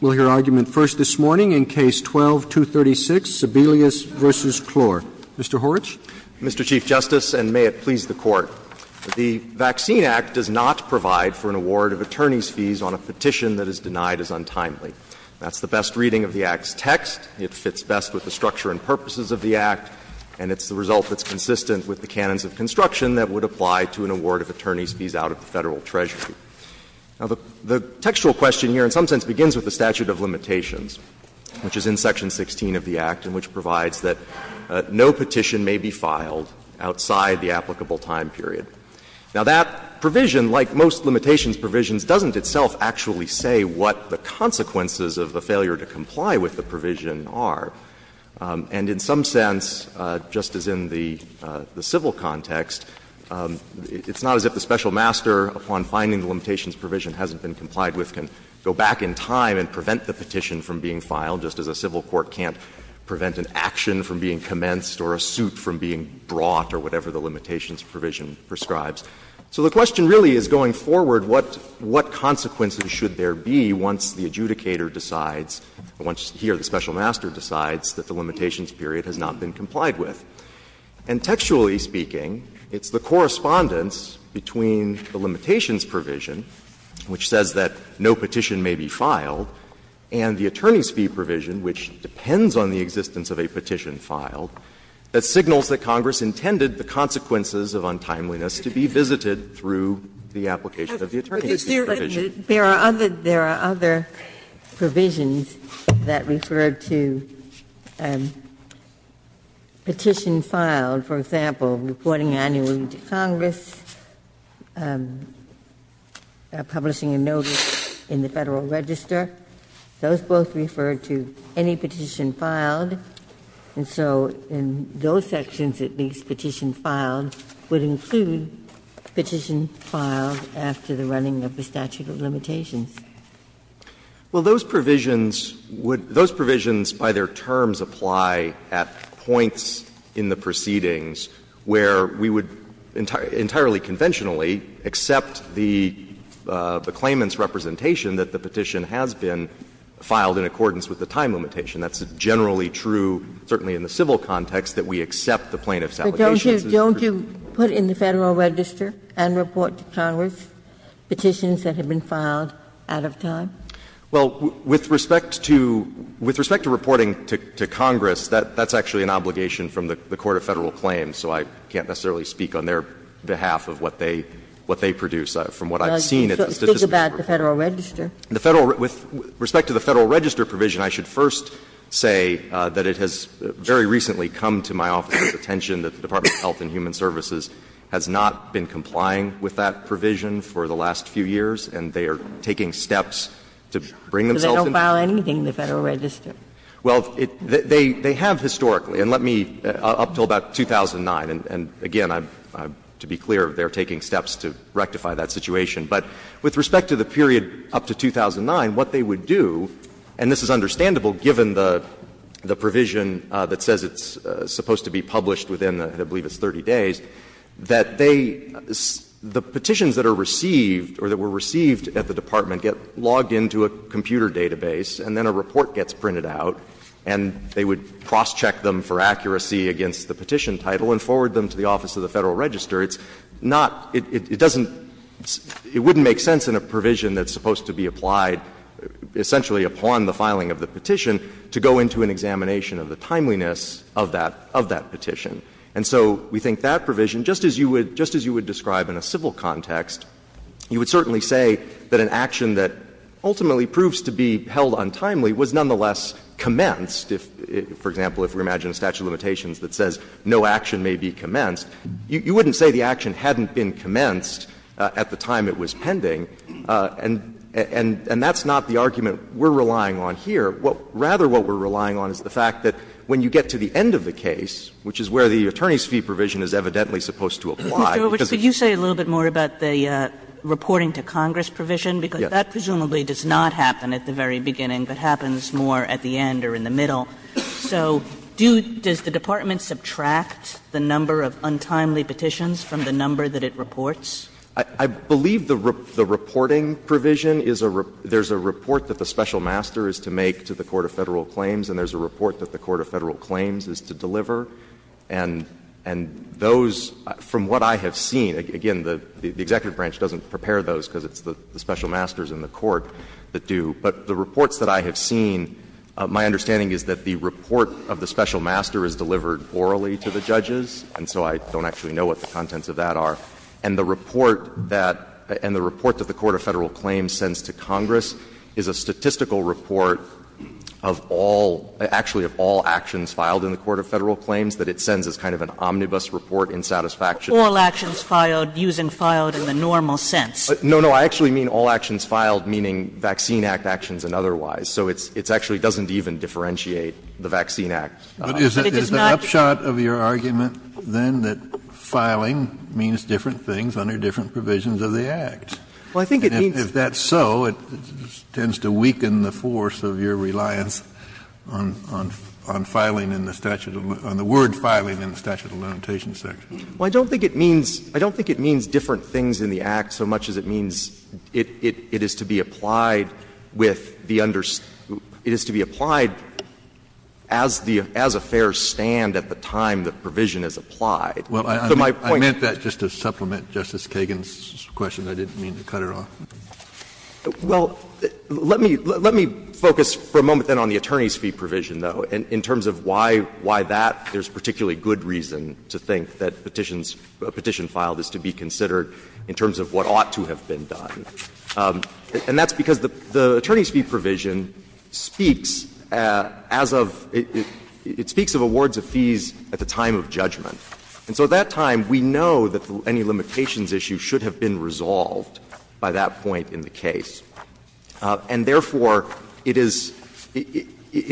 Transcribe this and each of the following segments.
We'll hear argument first this morning in Case 12-236, Sebelius v. Cloer. Mr. Horwich. Mr. Chief Justice, and may it please the Court, the Vaccine Act does not provide for an award of attorney's fees on a petition that is denied as untimely. That's the best reading of the Act's text. It fits best with the structure and purposes of the Act, and it's the result that's consistent with the canons of construction that would apply to an award of attorney's fees out of the Federal Treasury. Now, the textual question here in some sense begins with the statute of limitations, which is in Section 16 of the Act and which provides that no petition may be filed outside the applicable time period. Now, that provision, like most limitations provisions, doesn't itself actually say what the consequences of the failure to comply with the provision are. And in some sense, just as in the civil context, it's not as if the special master upon finding the limitations provision hasn't been complied with can go back in time and prevent the petition from being filed, just as a civil court can't prevent an action from being commenced or a suit from being brought or whatever the limitations provision prescribes. So the question really is going forward, what consequences should there be once the adjudicator decides, once he or the special master decides that the limitations period has not been complied with? And textually speaking, it's the correspondence between the limitations provision, which says that no petition may be filed, and the attorney's fee provision, which depends on the existence of a petition filed, that signals that Congress intended the consequences of untimeliness to be visited through the application of the attorney's fee provision. Ginsburg. There are other provisions that refer to petition filed, for example, reporting annually to Congress, publishing a notice in the Federal Register. Those both refer to any petition filed. And so in those sections, at least, petition filed would include petition filed after the running of the statute of limitations. Well, those provisions would — those provisions by their terms apply at points in the proceedings where we would entirely conventionally accept the claimant's representation that the petition has been filed in accordance with the time limitation. That's generally true, certainly in the civil context, that we accept the plaintiff's application. But don't you — don't you put in the Federal Register and report to Congress petitions that have been filed out of time? Well, with respect to — with respect to reporting to Congress, that's actually an obligation from the court of Federal claims, so I can't necessarily speak on their behalf of what they — what they produce from what I've seen at the Statistician Group. With respect to the Federal Register provision, I should first say that it has very recently come to my office's attention that the Department of Health and Human Services has not been complying with that provision for the last few years, and they are taking steps to bring themselves into this. So they don't file anything in the Federal Register? Well, they have historically, and let me — up until about 2009, and again, to be clear, they are taking steps to rectify that situation. But with respect to the period up to 2009, what they would do, and this is understandable given the provision that says it's supposed to be published within, I believe, it's 30 days, that they — the petitions that are received or that were received at the department get logged into a computer database, and then a report gets printed out, and they would cross-check them for accuracy against the petition title and forward them to the office of the Federal Register. It's not — it doesn't — it wouldn't make sense in a provision that's supposed to be applied essentially upon the filing of the petition to go into an examination of the timeliness of that — of that petition. And so we think that provision, just as you would — just as you would describe in a civil context, you would certainly say that an action that ultimately proves to be held untimely was nonetheless commenced if, for example, if we imagine a statute of limitations that says no action may be commenced, you wouldn't say the action hadn't been commenced at the time it was pending. And that's not the argument we're relying on here. Rather, what we're relying on is the fact that when you get to the end of the case, which is where the attorney's fee provision is evidently supposed to apply, because it's a little bit more about the reporting to Congress provision, because that presumably does not happen at the very beginning, but happens more at the end or in the middle. So do — does the department subtract the number of untimely petitions from the number that it reports? I believe the reporting provision is a — there's a report that the special master is to make to the court of Federal claims, and there's a report that the court of Federal claims is to deliver. And those, from what I have seen — again, the Executive Branch doesn't prepare those because it's the special masters in the court that do. But the reports that I have seen, my understanding is that the report of the special master is delivered orally to the judges, and so I don't actually know what the contents of that are. And the report that — and the report that the court of Federal claims sends to Congress is a statistical report of all — actually of all actions filed in the court of Federal claims that it sends as kind of an omnibus report in satisfaction. Kagan. All actions filed, using filed in the normal sense. No, no. I actually mean all actions filed, meaning Vaccine Act actions and otherwise. So it's — it actually doesn't even differentiate the Vaccine Act. But it is not the case. Kennedy, I'm sorry, but I don't think it means different things under different provisions of the Act. Well, I think it means — If that's so, it tends to weaken the force of your reliance on — on filing in the statute — on the word filing in the Statute of Limitations section. Well, I don't think it means — I don't think it means different things in the Act so much as it means it is to be applied with the under — it is to be applied as the — as affairs stand at the time the provision is applied. So my point — I meant that just to supplement Justice Kagan's question. I didn't mean to cut it off. Well, let me — let me focus for a moment then on the attorney's fee provision, though, in terms of why — why that there's particularly good reason to think that petitions — a petition filed is to be considered in terms of what ought to have been done. And that's because the attorney's fee provision speaks as of — it speaks of awards of fees at the time of judgment. And so at that time, we know that any limitations issue should have been resolved by that point in the case. And therefore, it is — it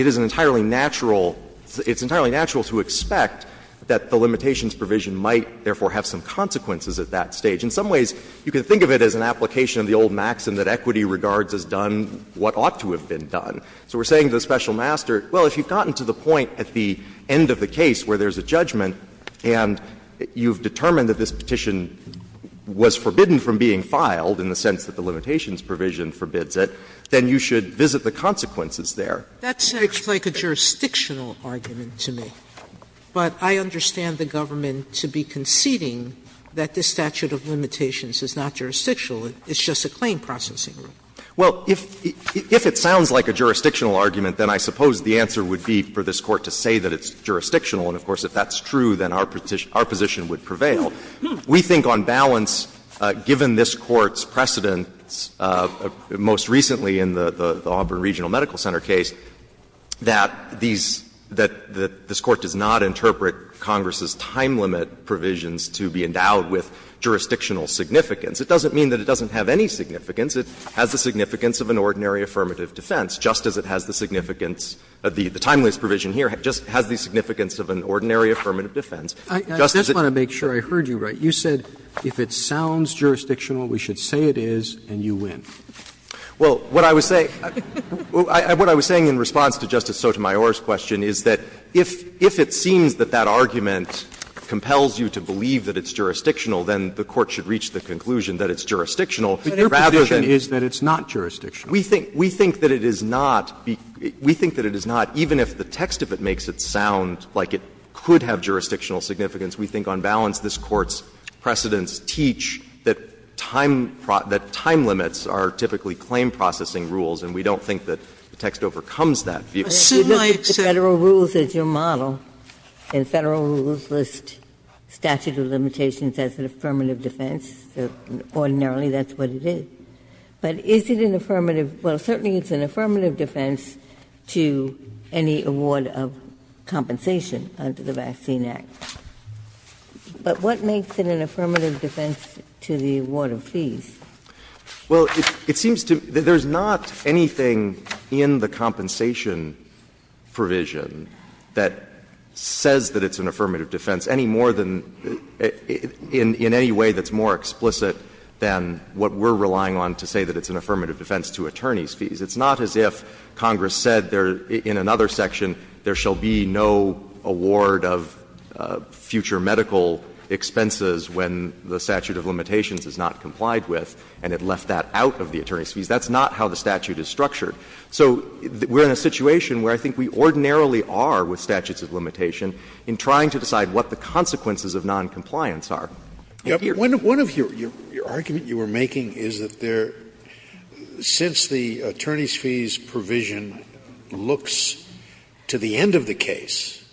is an entirely natural — it's entirely natural to expect that the limitations provision might, therefore, have some consequences at that stage. In some ways, you can think of it as an application of the old maxim that equity regards as done what ought to have been done. So we're saying to the special master, well, if you've gotten to the point at the end of the case where there's a judgment and you've determined that this petition was forbidden from being filed in the sense that the limitations provision forbids it, then you should visit the consequences there. Sotomayor, that seems like a jurisdictional argument to me. But I understand the government to be conceding that this statute of limitations is not jurisdictional. It's just a claim processing rule. Well, if it sounds like a jurisdictional argument, then I suppose the answer would be for this Court to say that it's jurisdictional. And, of course, if that's true, then our position would prevail. We think on balance, given this Court's precedents, most recently in the Auburn Regional Medical Center case, that these – that this Court does not interpret Congress's time limit provisions to be endowed with jurisdictional significance. It doesn't mean that it doesn't have any significance. It has the significance of an ordinary affirmative defense, just as it has the significance of the – the timeless provision here just has the significance of an ordinary affirmative defense. Just as it – Roberts, I just want to make sure I heard you right. You said if it sounds jurisdictional, we should say it is, and you win. Well, what I was saying – what I was saying in response to Justice Sotomayor's question is that if it seems that that argument compels you to believe that it's jurisdictional, then the Court should reach the conclusion that it's jurisdictional. But your position is that it's not jurisdictional. We think that it is not. We think that it is not, even if the text of it makes it sound like it could have jurisdictional significance. We think, on balance, this Court's precedents teach that time – that time limits are typically claim-processing rules, and we don't think that the text overcomes that view. Sotomayor, if you look at the Federal rules as your model, and Federal rules list statute of limitations as an affirmative defense, ordinarily that's what it is. But is it an affirmative – well, certainly it's an affirmative defense to any award of compensation under the Vaccine Act. But what makes it an affirmative defense to the award of fees? Well, it seems to me that there's not anything in the compensation provision that says that it's an affirmative defense any more than – in any way that's more explicit than what we're relying on to say that it's an affirmative defense to attorneys' fees. It's not as if Congress said there – in another section, there shall be no award of future medical expenses when the statute of limitations is not complied with, and it left that out of the attorneys' fees. That's not how the statute is structured. So we're in a situation where I think we ordinarily are with statutes of limitation in trying to decide what the consequences of noncompliance are. Scalia. One of your – your argument you were making is that there – since the attorneys' fees provision looks to the end of the case,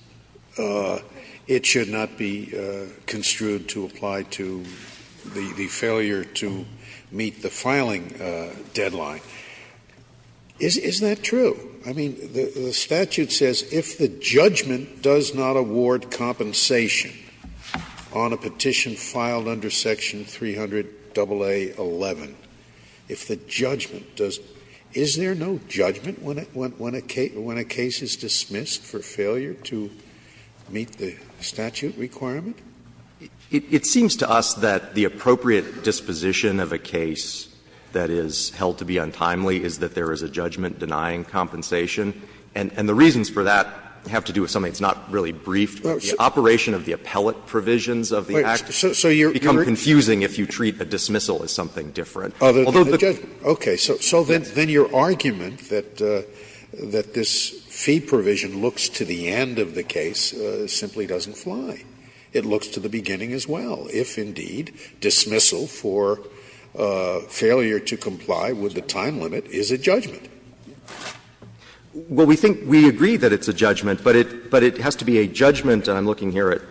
it should not be construed to apply to the failure to meet the filing deadline. Is that true? I mean, the statute says if the judgment does not award compensation on a petition filed under section 300-AA11, if the judgment does – is there no judgment when a case is dismissed for failure to meet the statute requirement? It seems to us that the appropriate disposition of a case that is held to be untimely is that there is a judgment denying compensation. And the reasons for that have to do with something that's not really briefed. So you're right. It would become confusing if you treat a dismissal as something different. Although the judgment. Okay. So then your argument that this fee provision looks to the end of the case simply doesn't fly. It looks to the beginning as well. If, indeed, dismissal for failure to comply with the time limit is a judgment. Well, we think we agree that it's a judgment, but it has to be a judgment. And I'm looking here at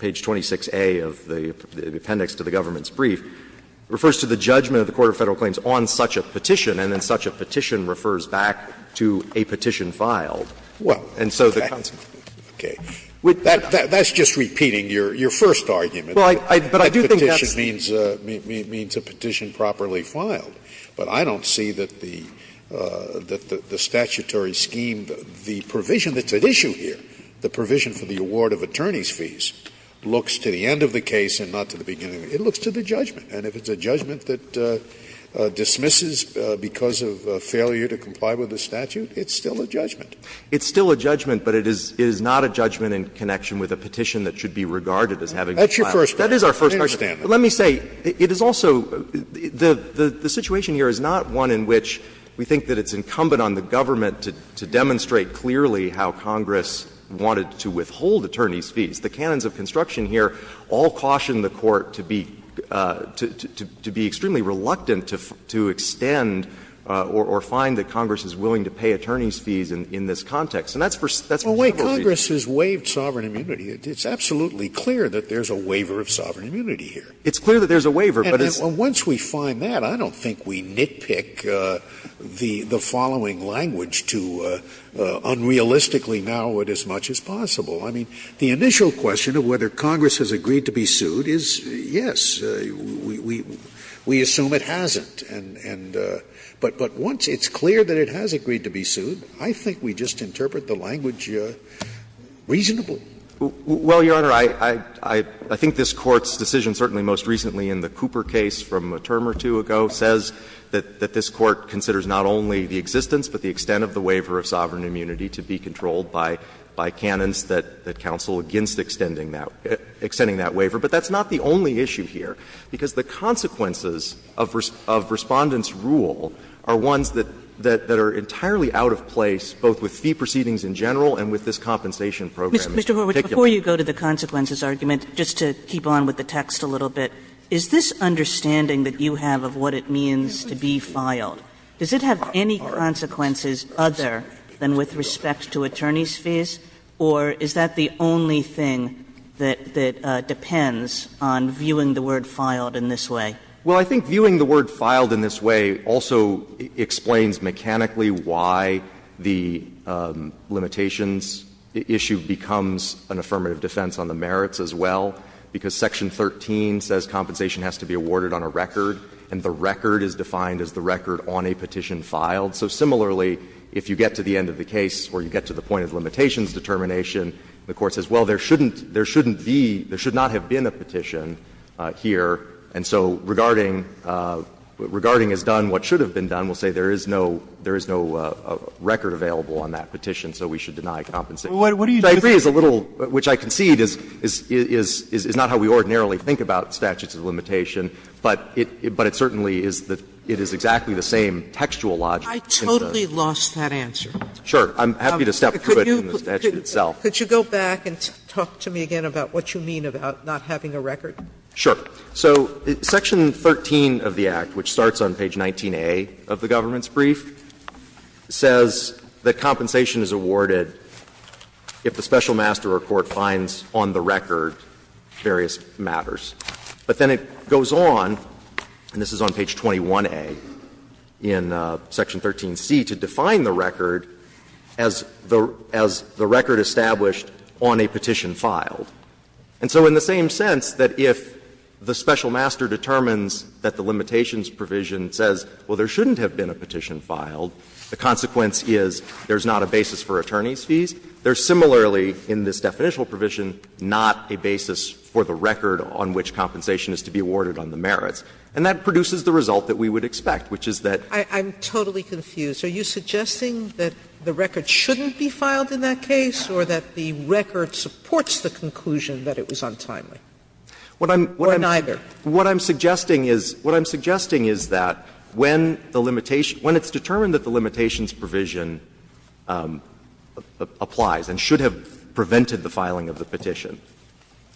page 26A of the appendix to the government's brief. It refers to the judgment of the Court of Federal Claims on such a petition, and then such a petition refers back to a petition filed. And so the consequence. Well, okay. That's just repeating your first argument. Well, I do think that's the case. That petition means a petition properly filed. But I don't see that the statutory scheme, the provision that's at issue here, the provision for the award of attorney's fees looks to the end of the case and not to the beginning. It looks to the judgment. And if it's a judgment that dismisses because of failure to comply with the statute, it's still a judgment. It's still a judgment, but it is not a judgment in connection with a petition that should be regarded as having been filed. That's your first argument. That is our first argument. I understand that. But let me say, it is also the situation here is not one in which we think that it's fees. The canons of construction here all caution the Court to be extremely reluctant to extend or find that Congress is willing to pay attorney's fees in this context. And that's for several reasons. Scalia, Congress has waived sovereign immunity. It's absolutely clear that there's a waiver of sovereign immunity here. It's clear that there's a waiver, but it's not. And once we find that, I don't think we nitpick the following language to unrealistically narrow it as much as possible. I mean, the initial question of whether Congress has agreed to be sued is yes. We assume it hasn't. And but once it's clear that it has agreed to be sued, I think we just interpret the language reasonably. Well, Your Honor, I think this Court's decision certainly most recently in the Cooper case from a term or two ago says that this Court considers not only the existence but the extent of the waiver of sovereign immunity to be controlled by canons that counsel against extending that waiver. But that's not the only issue here, because the consequences of Respondent's rule are ones that are entirely out of place, both with fee proceedings in general and with this compensation program in particular. Kagan, before you go to the consequences argument, just to keep on with the text a little bit, is this understanding that you have of what it means to be filed, does it have any consequences other than with respect to attorneys' fees, or is that the only thing that depends on viewing the word filed in this way? Well, I think viewing the word filed in this way also explains mechanically why the limitations issue becomes an affirmative defense on the merits as well, because Section 13 says compensation has to be awarded on a record, and the record is defined as the record on a petition filed. So, similarly, if you get to the end of the case or you get to the point of limitations determination, the Court says, well, there shouldn't be, there should not have been a petition here, and so regarding as done what should have been done, we'll say there is no, there is no record available on that petition, so we should deny compensation. So I agree it's a little, which I concede is not how we ordinarily think about statutes of limitations, but it certainly is the, it is exactly the same textual logic. I totally lost that answer. Sure. I'm happy to step through it in the statute itself. Could you go back and talk to me again about what you mean about not having a record? Sure. So Section 13 of the Act, which starts on page 19a of the government's brief, says that compensation is awarded if the special master or court finds on the record various matters. But then it goes on, and this is on page 21a in Section 13c, to define the record as the record established on a petition filed. And so in the same sense that if the special master determines that the limitations provision says, well, there shouldn't have been a petition filed, the consequence is there's not a basis for attorney's fees, there's similarly in this definitional provision not a basis for the record on which compensation is to be awarded on the merits. And that produces the result that we would expect, which is that. I'm totally confused. Are you suggesting that the record shouldn't be filed in that case, or that the record supports the conclusion that it was untimely, or neither? What I'm suggesting is, what I'm suggesting is that when the limitation, when it's determined that the limitations provision applies and should have prevented the filing of the petition,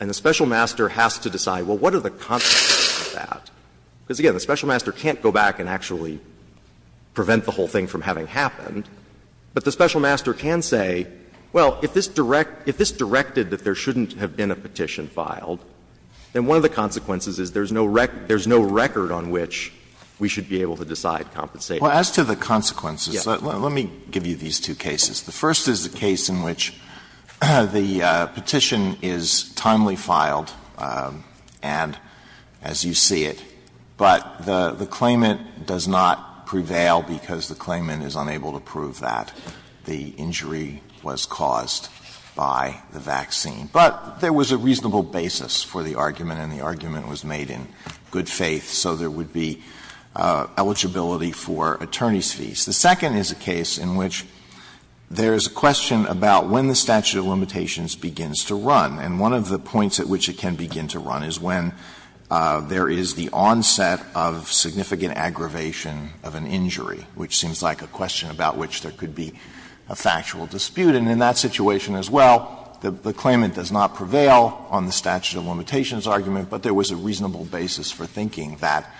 and the special master has to decide, well, what are the consequences of that, because, again, the special master can't go back and actually prevent the whole thing from having happened, but the special master can say, well, if this directed that there shouldn't have been a petition filed, then one of the consequences is there's no record on which we should be able to decide compensation. Alito, let me give you these two cases. The first is a case in which the petition is timely filed and, as you see it, but the claimant does not prevail because the claimant is unable to prove that the injury was caused by the vaccine. But there was a reasonable basis for the argument, and the argument was made in good faith, so there would be eligibility for attorney's fees. The second is a case in which there is a question about when the statute of limitations begins to run, and one of the points at which it can begin to run is when there is the onset of significant aggravation of an injury, which seems like a question about which there could be a factual dispute. And in that situation as well, the claimant does not prevail on the statute of limitations argument, but there was a reasonable basis for thinking that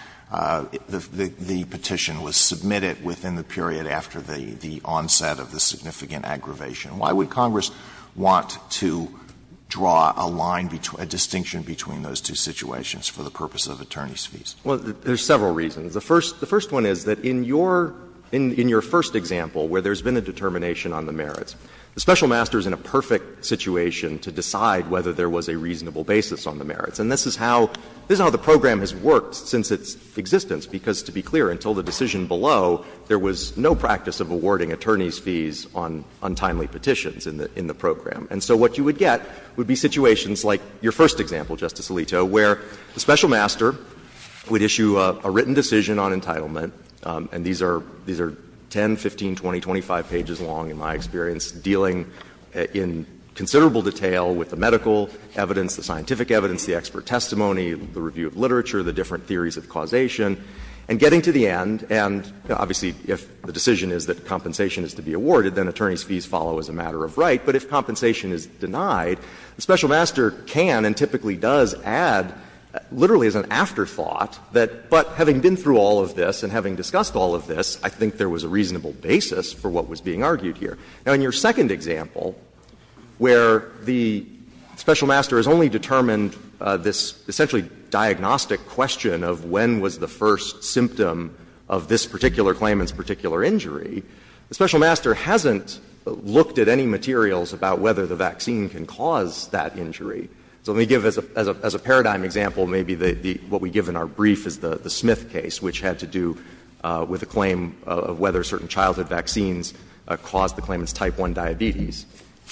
the petition was submitted within the period after the onset of the significant aggravation. Why would Congress want to draw a line, a distinction between those two situations for the purpose of attorney's fees? Well, there's several reasons. The first one is that in your first example where there's been a determination on the merits, the special master is in a perfect situation to decide whether there was a reasonable basis on the merits. And this is how the program has worked since its existence, because, to be clear, until the decision below, there was no practice of awarding attorney's fees on untimely petitions in the program. And so what you would get would be situations like your first example, Justice Alito, where the special master would issue a written decision on entitlement and these are 10, 15, 20, 25 pages long, in my experience, dealing in considerable detail with the medical evidence, the scientific evidence, the expert testimony, the review of literature, the different theories of causation, and getting to the end and, obviously, if the decision is that compensation is to be awarded, then attorney's fees follow as a matter of right. But if compensation is denied, the special master can and typically does add, literally as an afterthought, that, but having been through all of this and having discussed all of this, I think there was a reasonable basis for what was being argued here. Now, in your second example, where the special master has only determined this essentially diagnostic question of when was the first symptom of this particular claimant's particular injury, the special master hasn't looked at any materials about whether the vaccine can cause that injury. So let me give, as a paradigm example, maybe what we give in our brief is the Smith case, which had to do with a claim of whether certain childhood vaccines caused the claimant's type 1 diabetes.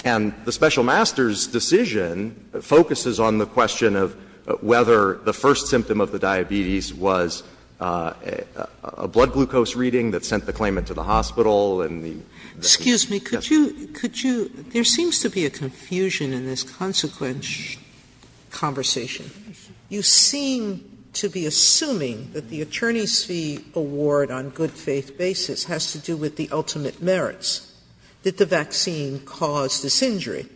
And the special master's decision focuses on the question of whether the first symptom of the diabetes was a blood glucose reading that sent the claimant to the hospital and the other. Sotomayor, there seems to be a confusion in this consequent conversation. You seem to be assuming that the attorney's fee award on good faith basis has to do with the ultimate merits. Did the vaccine cause this injury?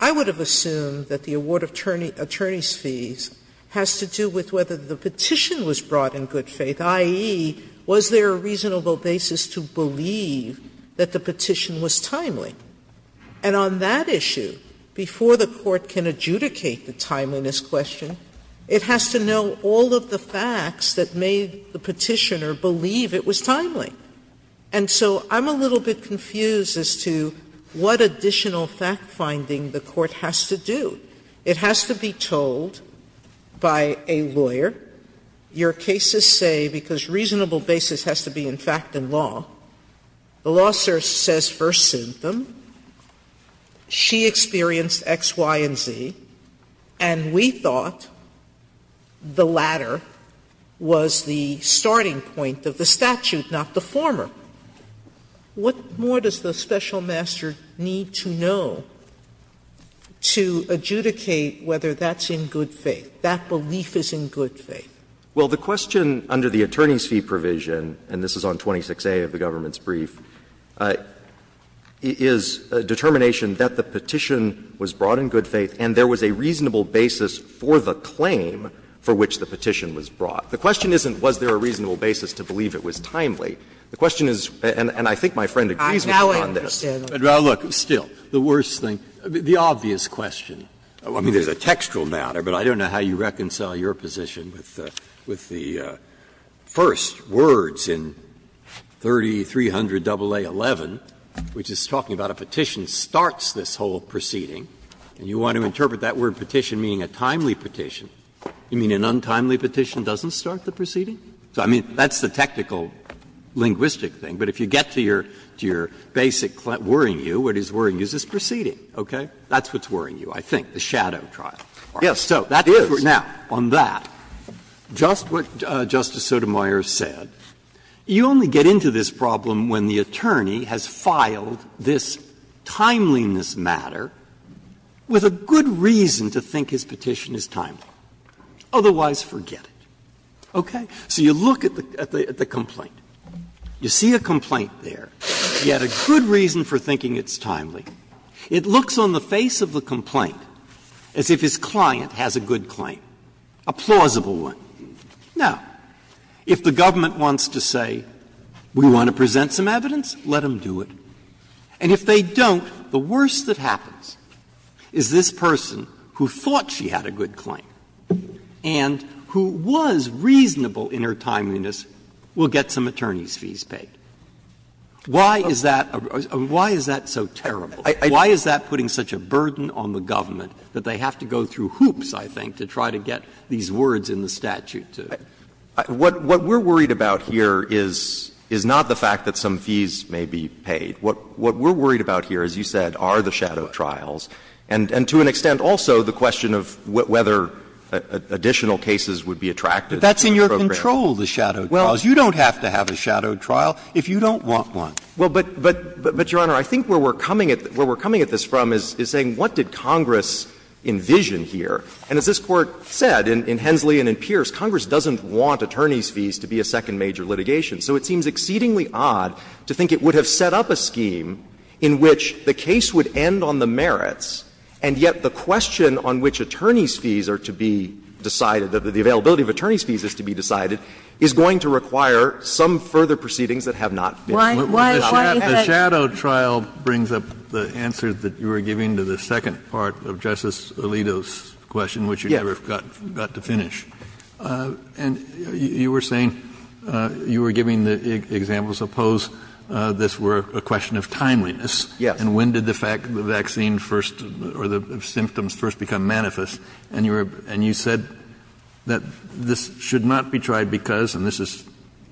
I would have assumed that the award attorney's fees has to do with whether the petition was brought in good faith, i.e., was there a reasonable basis to believe that the petition was timely. And on that issue, before the Court can adjudicate the timeliness question, it has to know all of the facts that made the petitioner believe it was timely. And so I'm a little bit confused as to what additional fact-finding the Court has to do. It has to be told by a lawyer, your cases say, because reasonable basis has to be in fact in law, the law says first symptom, she experienced X, Y, and Z, and we thought the latter was the starting point of the statute, not the former. What more does the special master need to know to adjudicate whether that's in good faith, that belief is in good faith? Well, the question under the attorney's fee provision, and this is on 26A of the government's brief, is a determination that the petition was brought in good faith and there was a reasonable basis for the claim for which the petition was brought. The question isn't was there a reasonable basis to believe it was timely. The question is, and I think my friend agrees with me on this. Sotomayor, I understand. Breyer, look, still, the worst thing, the obvious question, I mean, there's a textual matter, but I don't know how you reconcile your position with the first words in 3300 AA11, which is talking about a petition starts this whole proceeding, and you want to interpret that word, petition, meaning a timely petition. You mean an untimely petition doesn't start the proceeding? I mean, that's the technical linguistic thing, but if you get to your basic worrying you, what is worrying you is this proceeding, okay? That's what's worrying you, I think, the shadow trial. Now, on that, just what Justice Sotomayor said, you only get into this problem when the attorney has filed this timeliness matter with a good reason to think his petition is timely, otherwise forget it, okay? So you look at the complaint. You see a complaint there, you had a good reason for thinking it's timely. It looks on the face of the complaint as if his client has a good claim, a plausible one. Now, if the government wants to say, we want to present some evidence, let them do it. And if they don't, the worst that happens is this person who thought she had a good claim and who was reasonable in her timeliness will get some attorney's fees paid. Why is that so terrible? Why is that putting such a burden on the government that they have to go through these words in the statute to do it? What we're worried about here is not the fact that some fees may be paid. What we're worried about here, as you said, are the shadow trials and to an extent also the question of whether additional cases would be attracted to the program. But that's in your control, the shadow trials. Well, you don't have to have a shadow trial if you don't want one. Well, but, Your Honor, I think where we're coming at this from is saying what did Congress envision here? And as this Court said in Hensley and in Pierce, Congress doesn't want attorney's fees to be a second major litigation. So it seems exceedingly odd to think it would have set up a scheme in which the case would end on the merits, and yet the question on which attorney's fees are to be decided, the availability of attorney's fees is to be decided, is going to require some further proceedings that have not been. The shadow trial brings up the answer that you were giving to the second part of Justice Alito's question, which you never got to finish. And you were saying, you were giving the example, suppose this were a question of timeliness, and when did the fact that the vaccine first or the symptoms first become manifest, and you said that this should not be tried because, and this is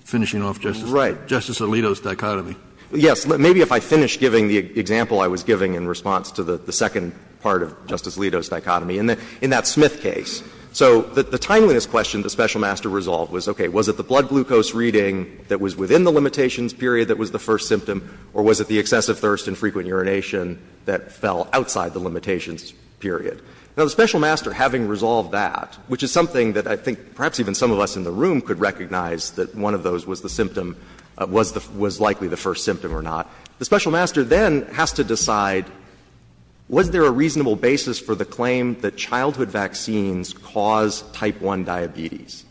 finishing off Justice Alito's dichotomy. Yes. Maybe if I finish giving the example I was giving in response to the second part of Justice Alito's dichotomy, in that Smith case. So the timeliness question the special master resolved was, okay, was it the blood glucose reading that was within the limitations period that was the first symptom, or was it the excessive thirst and frequent urination that fell outside the limitations period? Now, the special master, having resolved that, which is something that I think perhaps even some of us in the room could recognize that one of those was the symptom, was likely the first symptom or not, the special master then has to decide, was there a reasonable basis for the claim that childhood vaccines cause type 1 diabetes?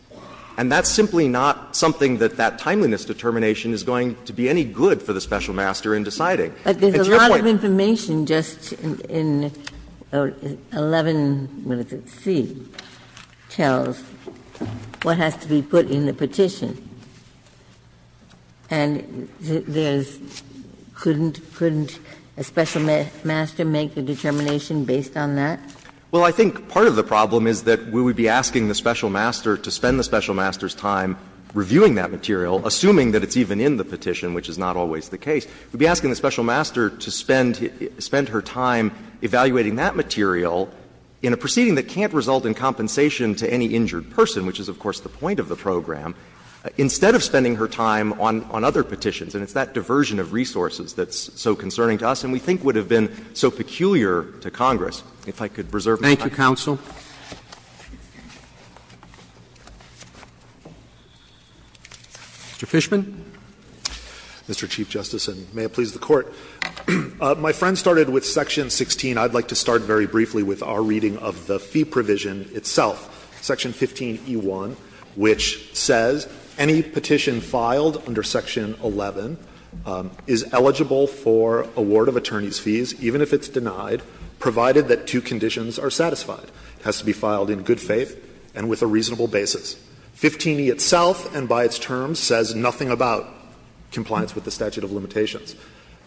And that's simply not something that that timeliness determination is going to be any good for the special master in deciding. And to your point, Ginsburg. Ginsburg. But there's a lot of information just in 11, what is it, C, tells what has to be put in the petition. And there's — couldn't a special master make a determination based on that? Well, I think part of the problem is that we would be asking the special master to spend the special master's time reviewing that material, assuming that it's even in the petition, which is not always the case. We would be asking the special master to spend her time evaluating that material in a proceeding that can't result in compensation to any injured person, which is, of course, the point of the program, instead of spending her time on other petitions. And it's that diversion of resources that's so concerning to us and we think would have been so peculiar to Congress. If I could reserve my time. Thank you, counsel. Mr. Fishman. Mr. Chief Justice, and may it please the Court. My friend started with section 16. I'd like to start very briefly with our reading of the fee provision itself. Section 15e1, which says any petition filed under section 11 is eligible for award of attorney's fees, even if it's denied, provided that two conditions are satisfied. It has to be filed in good faith and with a reasonable basis. 15e itself and by its terms says nothing about compliance with the statute of limitations.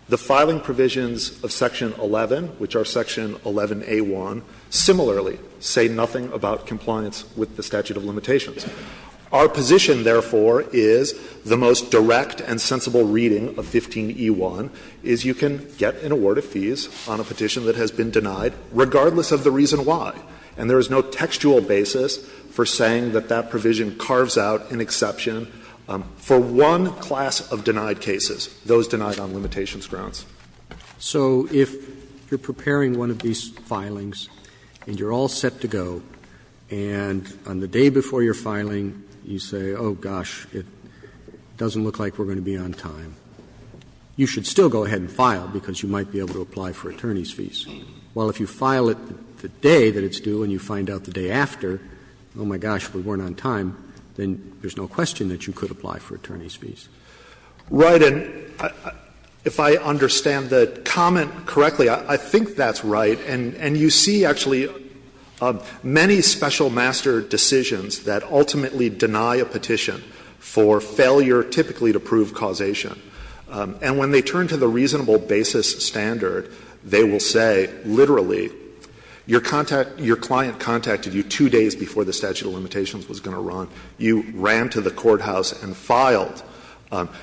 The filing provisions of section 11, which are section 11a1, similarly say nothing about compliance with the statute of limitations. Our position, therefore, is the most direct and sensible reading of 15e1 is you can get an award of fees on a petition that has been denied, regardless of the reason why. And there is no textual basis for saying that that provision carves out an exception for one class of denied cases, those denied on limitations grounds. Roberts So if you're preparing one of these filings and you're all set to go, and on the day before you're filing you say, oh, gosh, it doesn't look like we're going to be on time, you should still go ahead and file because you might be able to apply for attorney's fees, while if you file it the day that it's due and you find out the day after, oh, my gosh, we weren't on time, then there's no question that you could apply for attorney's fees. Right. And if I understand the comment correctly, I think that's right. And you see, actually, many special master decisions that ultimately deny a petition for failure typically to prove causation. And when they turn to the reasonable basis standard, they will say, literally, your client contacted you two days before the statute of limitations was going to run. You ran to the courthouse and filed.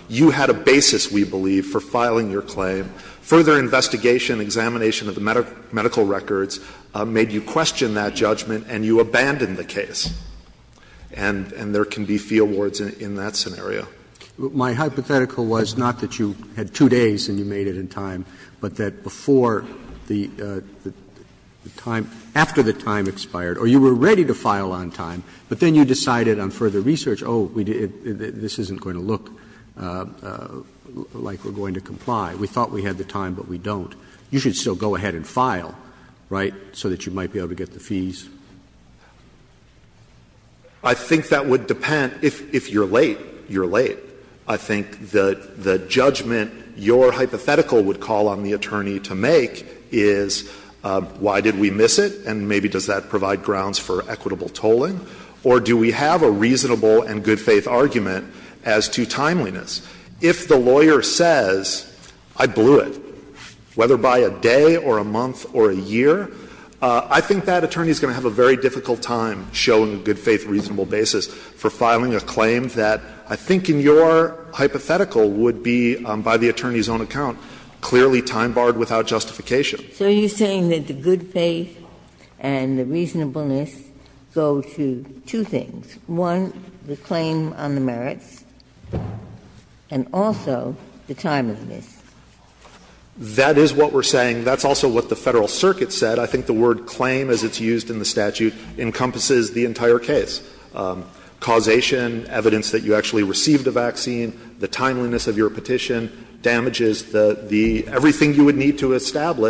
You had a basis, we believe, for filing your claim. Further investigation, examination of the medical records made you question that judgment and you abandoned the case. And there can be fee awards in that scenario. Roberts My hypothetical was not that you had two days and you made it in time, but that before the time or after the time expired, or you were ready to file on time, but then you decided on further research, oh, this isn't going to look like we're going to comply. We thought we had the time, but we don't. You should still go ahead and file, right, so that you might be able to get the fees. I think that would depend. If you're late, you're late. I think the judgment your hypothetical would call on the attorney to make is why did we miss it, and maybe does that provide grounds for equitable tolling, or do we have a reasonable and good-faith argument as to timeliness. If the lawyer says, I blew it, whether by a day or a month or a year, I think that attorney is going to have a very difficult time showing a good-faith, reasonable basis for filing a claim that I think in your hypothetical would be, by the attorney's own account, clearly time-barred without justification. Ginsburg. So you're saying that the good-faith and the reasonableness go to two things. One, the claim on the merits, and also the timeliness. That is what we're saying. That's also what the Federal Circuit said. I think the word claim, as it's used in the statute, encompasses the entire case. Causation, evidence that you actually received a vaccine, the timeliness of your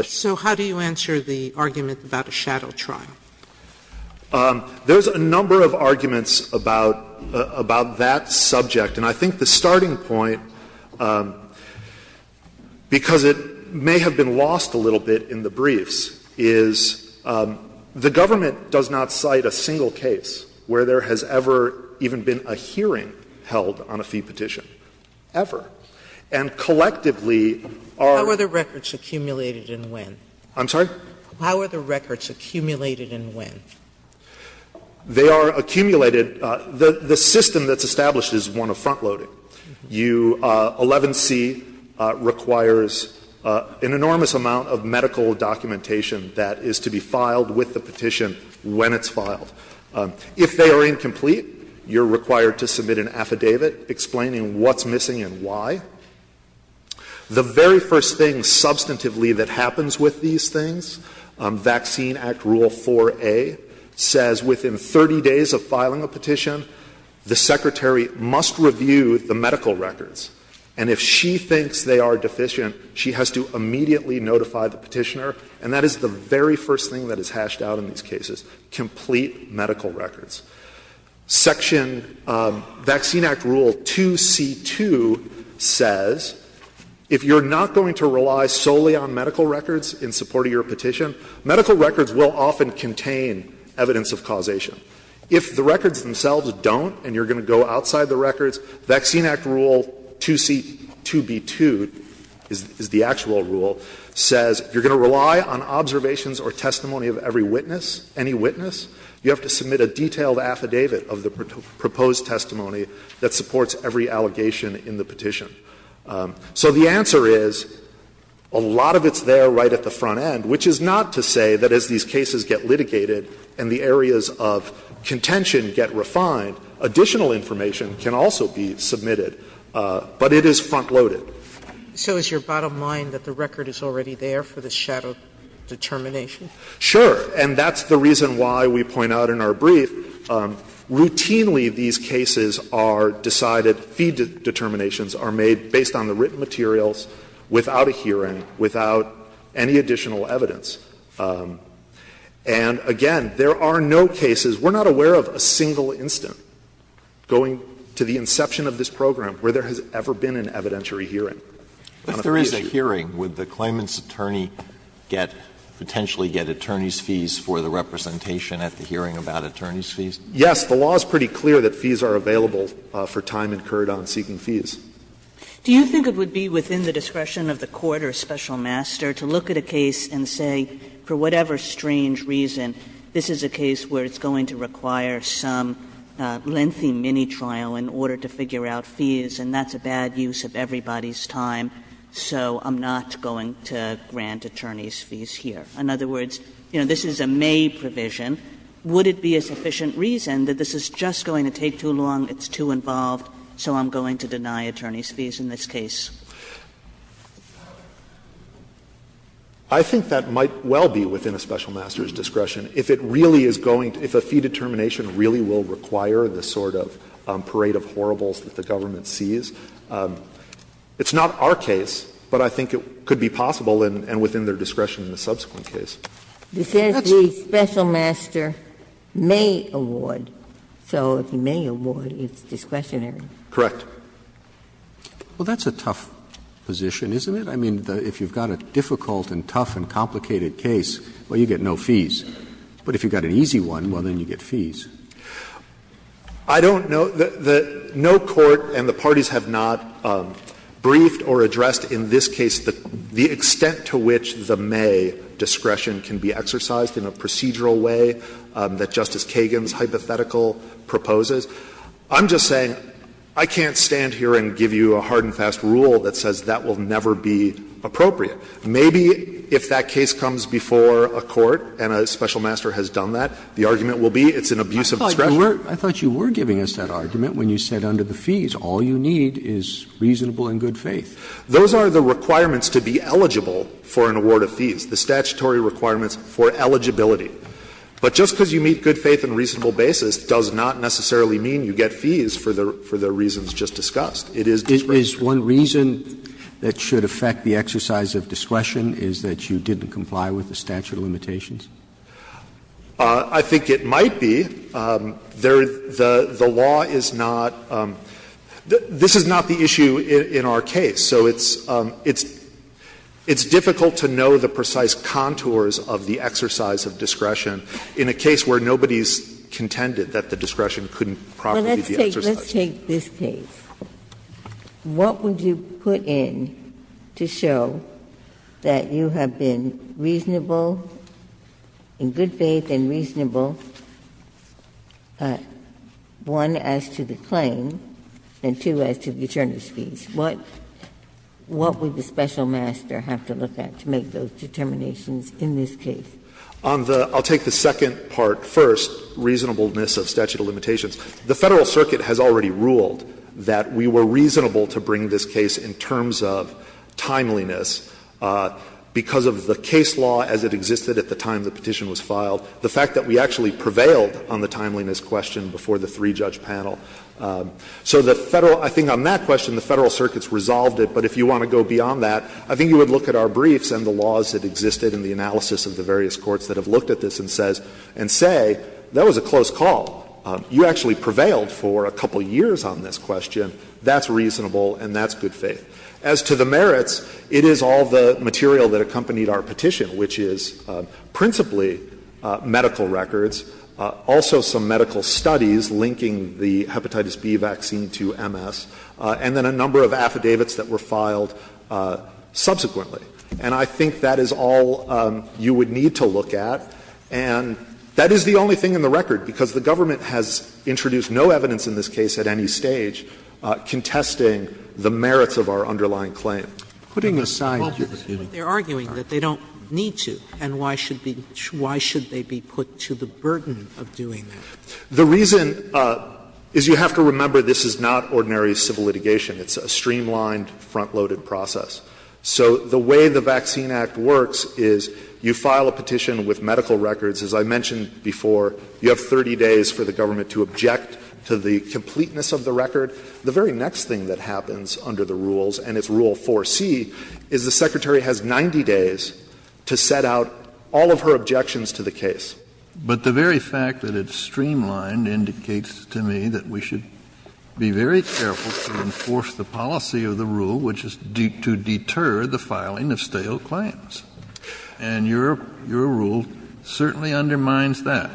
So how do you answer the argument about a shadow trial? There's a number of arguments about that subject. And I think the starting point, because it may have been lost a little bit in the briefs, is the government does not cite a single case where there has ever even been a hearing held on a fee petition, ever. And collectively, our other records accumulated in when? I'm sorry? How are the records accumulated in when? They are accumulated the system that's established is one of front-loading. You 11c requires an enormous amount of medical documentation that is to be filed with the petition when it's filed. If they are incomplete, you're required to submit an affidavit explaining what's missing and why. The very first thing substantively that happens with these things, Vaccine Act Rule 4a says within 30 days of filing a petition, the secretary must review the medical records. And if she thinks they are deficient, she has to immediately notify the petitioner. And that is the very first thing that is hashed out in these cases, complete medical records. Section Vaccine Act Rule 2c2 says if you're not going to rely solely on medical records in support of your petition, medical records will often contain evidence of causation. If the records themselves don't and you're going to go outside the records, Vaccine Act Rule 2c2b2 is the actual rule, says you're going to rely on observations or testimony of every witness, any witness. You have to submit a detailed affidavit of the proposed testimony that supports every allegation in the petition. So the answer is a lot of it's there right at the front end, which is not to say that as these cases get litigated and the areas of contention get refined, additional information can also be submitted, but it is front-loaded. Sotomayor So is your bottom line that the record is already there for the shadow determination? Fisher Sure. And that's the reason why we point out in our brief, routinely these cases are decided fee determinations are made based on the written materials without a hearing, without any additional evidence. And again, there are no cases, we're not aware of a single incident going to the inception of this program where there has ever been an evidentiary hearing. Alito If there is a hearing, would the claimant's attorney get, potentially get attorney's fees for the representation at the hearing about attorney's fees? Fisher Yes. The law is pretty clear that fees are available for time incurred on seeking fees. Kagan Do you think it would be within the discretion of the court or a special master to look at a case and say, for whatever strange reason, this is a case where it's going to require some lengthy mini-trial in order to figure out fees, and that's a bad use of everybody's time? So I'm not going to grant attorney's fees here. In other words, you know, this is a May provision. Would it be a sufficient reason that this is just going to take too long, it's too involved, so I'm going to deny attorney's fees in this case? Fisher I think that might well be within a special master's discretion. If it really is going to – if a fee determination really will require the sort of parade of horribles that the government sees, it's not our case, but I think it could be possible and within their discretion in the subsequent case. Ginsburg This is the special master may award. So if he may award, it's discretionary. Fisher Correct. Roberts Well, that's a tough position, isn't it? I mean, if you've got a difficult and tough and complicated case, well, you get no fees. But if you've got an easy one, well, then you get fees. Fisher I don't know – no court and the parties have not briefed or addressed in this case the extent to which the May discretion can be exercised in a procedural way that Justice Kagan's hypothetical proposes. I'm just saying I can't stand here and give you a hard and fast rule that says that will never be appropriate. Maybe if that case comes before a court and a special master has done that, the argument will be it's an abuse of discretion. Roberts I thought you were giving us that argument when you said under the fees, all you need is reasonable and good faith. Fisher Those are the requirements to be eligible for an award of fees, the statutory requirements for eligibility. But just because you meet good faith on a reasonable basis does not necessarily mean you get fees for the reasons just discussed. It is discretionary. Roberts Is one reason that should affect the exercise of discretion is that you didn't comply with the statute of limitations? Fisher I think it might be. The law is not – this is not the issue in our case. So it's difficult to know the precise contours of the exercise of discretion in a case where nobody has contended that the discretion couldn't properly be exercised. Ginsburg Let's take this case. What would you put in to show that you have been reasonable, in good faith and reasonable, one, as to the claim, and two, as to the attorneys' fees? What would the special master have to look at to make those determinations in this case? Fisher I'll take the second part first, reasonableness of statute of limitations. The Federal Circuit has already ruled that we were reasonable to bring this case in terms of timeliness because of the case law as it existed at the time the petition was filed, the fact that we actually prevailed on the timeliness question before the three-judge panel. So the Federal – I think on that question, the Federal Circuit's resolved it. But if you want to go beyond that, I think you would look at our briefs and the laws that existed in the analysis of the various courts that have looked at this and say, that was a close call. You actually prevailed for a couple of years on this question. That's reasonable and that's good faith. As to the merits, it is all the material that accompanied our petition, which is principally medical records, also some medical studies linking the hepatitis B vaccine to MS, and then a number of affidavits that were filed subsequently. And I think that is all you would need to look at. And that is the only thing in the record, because the government has introduced no evidence in this case at any stage contesting the merits of our underlying claim. Sotomayor, they're arguing that they don't need to, and why should they be put to the burden of doing that? The reason is you have to remember this is not ordinary civil litigation. It's a streamlined, front-loaded process. So the way the Vaccine Act works is you file a petition with medical records. As I mentioned before, you have 30 days for the government to object to the completeness of the record. The very next thing that happens under the rules and it's rule 4C is the Secretary has 90 days to set out all of her objections to the case. But the very fact that it's streamlined indicates to me that we should be very careful to enforce the policy of the rule, which is to deter the filing of stale claims. And your rule certainly undermines that.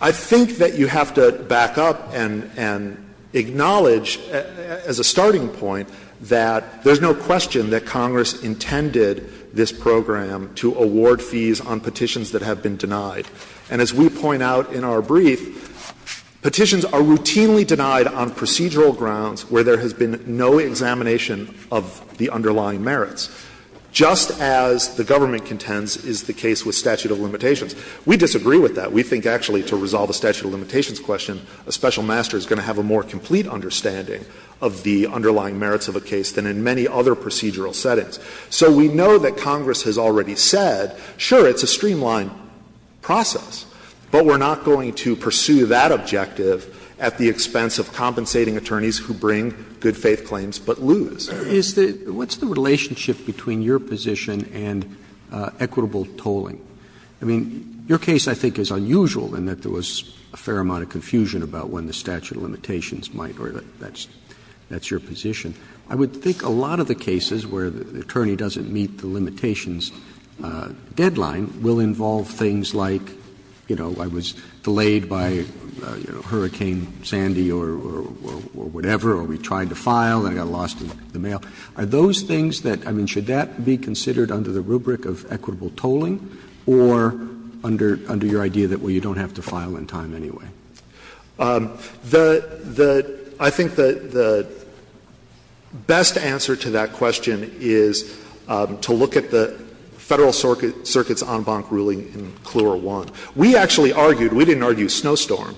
I think that you have to back up and acknowledge as a starting point that there's no question that Congress intended this program to award fees on petitions that have been denied. And as we point out in our brief, petitions are routinely denied on procedural grounds where there has been no examination of the underlying merits, just as the government contends is the case with statute of limitations. We disagree with that. We think actually to resolve a statute of limitations question, a special master is going to have a more complete understanding of the underlying merits of a case than in many other procedural settings. So we know that Congress has already said, sure, it's a streamlined process, but we're not going to pursue that objective at the expense of compensating attorneys who bring good-faith claims but lose. Roberts. Roberts. What's the relationship between your position and equitable tolling? I mean, your case I think is unusual in that there was a fair amount of confusion about when the statute of limitations might, or that's your position. I would think a lot of the cases where the attorney doesn't meet the limitations deadline will involve things like, you know, I was delayed by Hurricane Sandy or whatever, or we tried to file and I got lost in the mail. Are those things that, I mean, should that be considered under the rubric of equitable tolling or under your idea that, well, you don't have to file in time anyway? The — the — I think the best answer to that question is to look at the Federal Circuit's en banc ruling in CLUER 1. We actually argued, we didn't argue Snowstorm,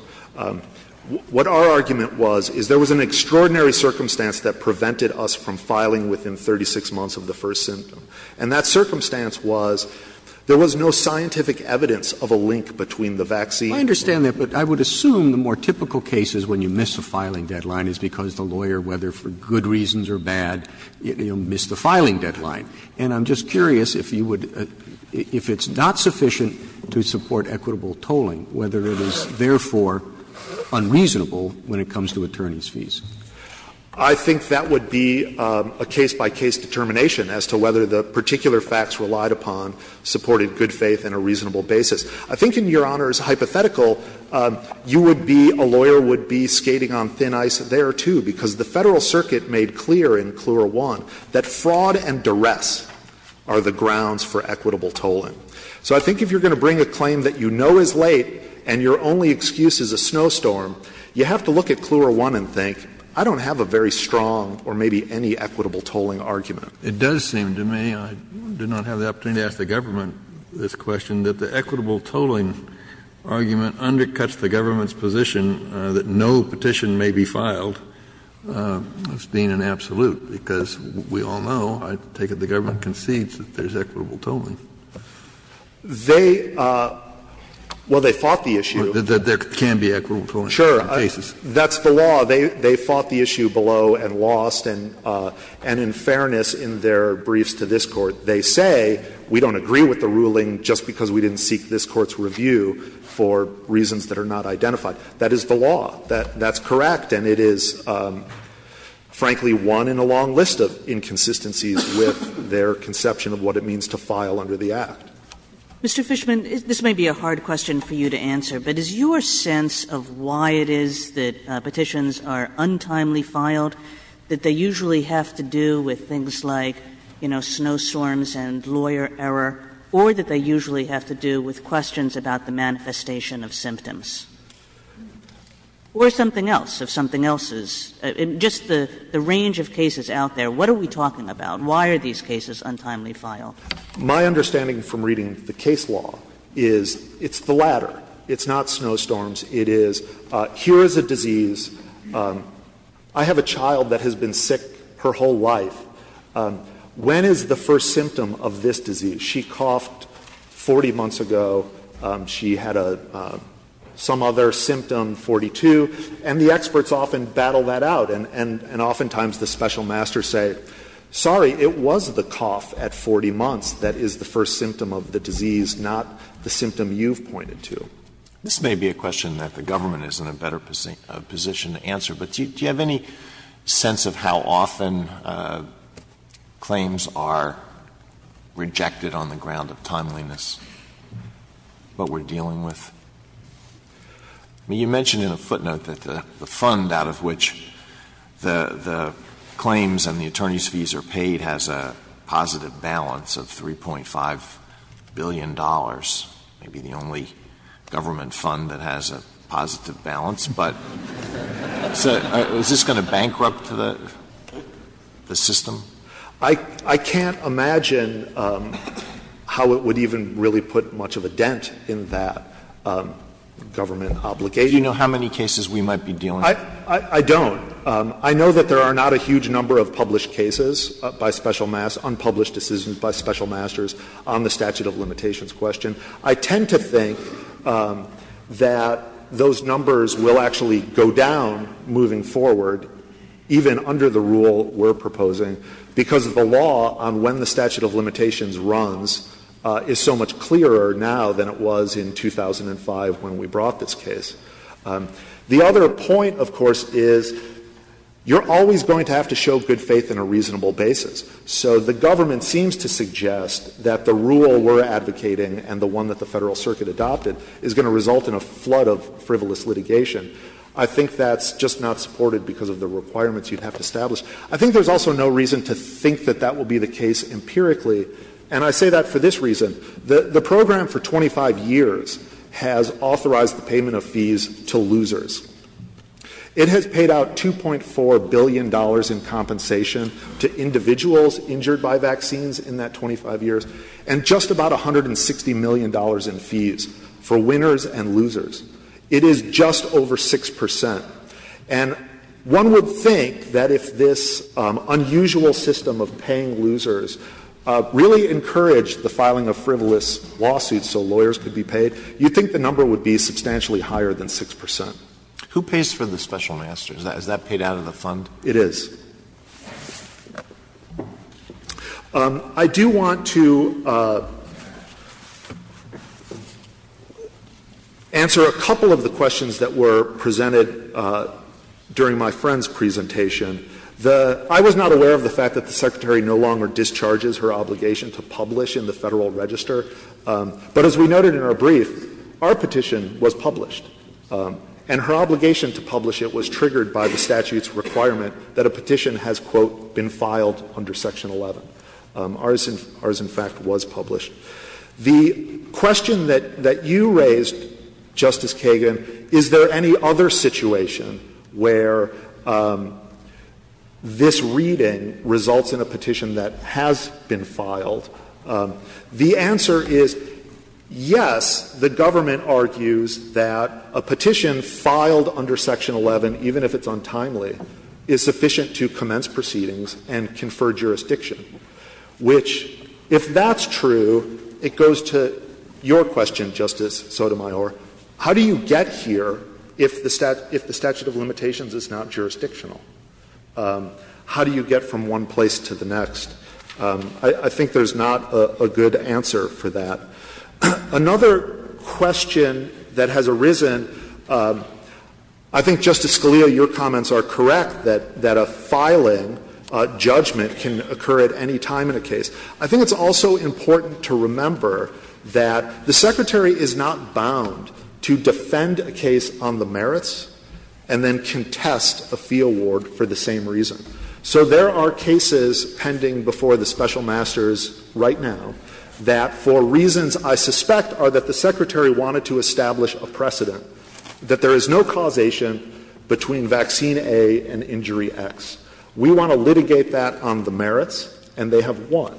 what our argument was is there was an extraordinary circumstance that prevented us from filing within 36 months of the first symptom. And that circumstance was there was no scientific evidence of a link between the vaccine I understand that, but I would assume the more typical cases when you miss a filing deadline is because the lawyer, whether for good reasons or bad, missed the filing deadline. And I'm just curious if you would — if it's not sufficient to support equitable tolling, whether it is therefore unreasonable when it comes to attorneys' fees. I think that would be a case-by-case determination as to whether the particular facts relied upon supported good faith and a reasonable basis. I think, in Your Honor's hypothetical, you would be — a lawyer would be skating on thin ice there, too, because the Federal Circuit made clear in CLUER 1 that fraud and duress are the grounds for equitable tolling. So I think if you're going to bring a claim that you know is late and your only excuse is a snowstorm, you have to look at CLUER 1 and think, I don't have a very strong or maybe any equitable tolling argument. Kennedy. It does seem to me, I do not have the opportunity to ask the government this question, that the equitable tolling argument undercuts the government's position that no petition may be filed as being an absolute, because we all know, I take it the government concedes that there is equitable tolling. They — well, they fought the issue. That there can be equitable tolling on a certain basis. Sure. That's the law. They fought the issue below and lost, and in fairness, in their briefs to this Court, they say, we don't agree with the ruling just because we didn't seek this Court's review for reasons that are not identified. That is the law. That's correct, and it is, frankly, one in a long list of inconsistencies with their conception of what it means to file under the Act. Kagan, this may be a hard question for you to answer, but is your sense of why it is that petitions are untimely filed that they usually have to do with things like, you know, snowstorms and lawyer error, or that they usually have to do with questions about the manifestation of symptoms? Or something else, if something else is — just the range of cases out there, what are we talking about? Why are these cases untimely filed? My understanding from reading the case law is it's the latter. It's not snowstorms. It is, here is a disease, I have a child that has been sick her whole life. When is the first symptom of this disease? She coughed 40 months ago. She had a — some other symptom, 42. And the experts often battle that out, and oftentimes the special masters say, sorry, it was the cough at 40 months that is the first symptom of the disease, not the symptom you've pointed to. This may be a question that the government is in a better position to answer, but Do you have any sense of how often claims are rejected on the ground of timeliness, what we're dealing with? I mean, you mentioned in a footnote that the fund out of which the claims and the attorney's fees are paid has a positive balance of $3.5 billion. Maybe the only government fund that has a positive balance, but — Is this going to bankrupt the system? I can't imagine how it would even really put much of a dent in that government obligation. Do you know how many cases we might be dealing with? I don't. I know that there are not a huge number of published cases by special — unpublished decisions by special masters on the statute of limitations question. I tend to think that those numbers will actually go down moving forward, even under the rule we're proposing, because the law on when the statute of limitations runs is so much clearer now than it was in 2005 when we brought this case. The other point, of course, is you're always going to have to show good faith in a reasonable basis. So the government seems to suggest that the rule we're advocating and the one that the Federal Circuit adopted is going to result in a flood of frivolous litigation. I think that's just not supported because of the requirements you'd have to establish. I think there's also no reason to think that that will be the case empirically, and I say that for this reason. The program for 25 years has authorized the payment of fees to losers. It has paid out $2.4 billion in compensation to individuals injured by vaccines in that 25 years, and just about $160 million in fees for winners and losers. It is just over 6 percent, and one would think that if this unusual system of paying losers really encouraged the filing of frivolous lawsuits so lawyers could be paid, you'd think the number would be substantially higher than 6 percent. Who pays for the special master? Is that paid out of the fund? It is. I do want to answer a couple of the questions that were presented during my friend's presentation. I was not aware of the fact that the Secretary no longer discharges her obligation to publish in the Federal Register, but as we noted in our brief, our petition was filed under Section 11, and her obligation to publish it was triggered by the statute's requirement that a petition has, quote, been filed under Section 11. Ours, in fact, was published. The question that you raised, Justice Kagan, is there any other situation where this reading results in a petition that has been filed? The answer is, yes, the government argues that a petition filed under Section 11, even if it's untimely, is sufficient to commence proceedings and confer jurisdiction, which, if that's true, it goes to your question, Justice Sotomayor. How do you get here if the statute of limitations is not jurisdictional? How do you get from one place to the next? I think there's not a good answer for that. Another question that has arisen, I think, Justice Scalia, your comments are correct that a filing judgment can occur at any time in a case. I think it's also important to remember that the Secretary is not bound to defend a case on the merits and then contest a fee award for the same reason. So there are cases pending before the special masters right now that, for reasons I suspect, are that the Secretary wanted to establish a precedent, that there is no causation between vaccine A and injury X. We want to litigate that on the merits, and they have won.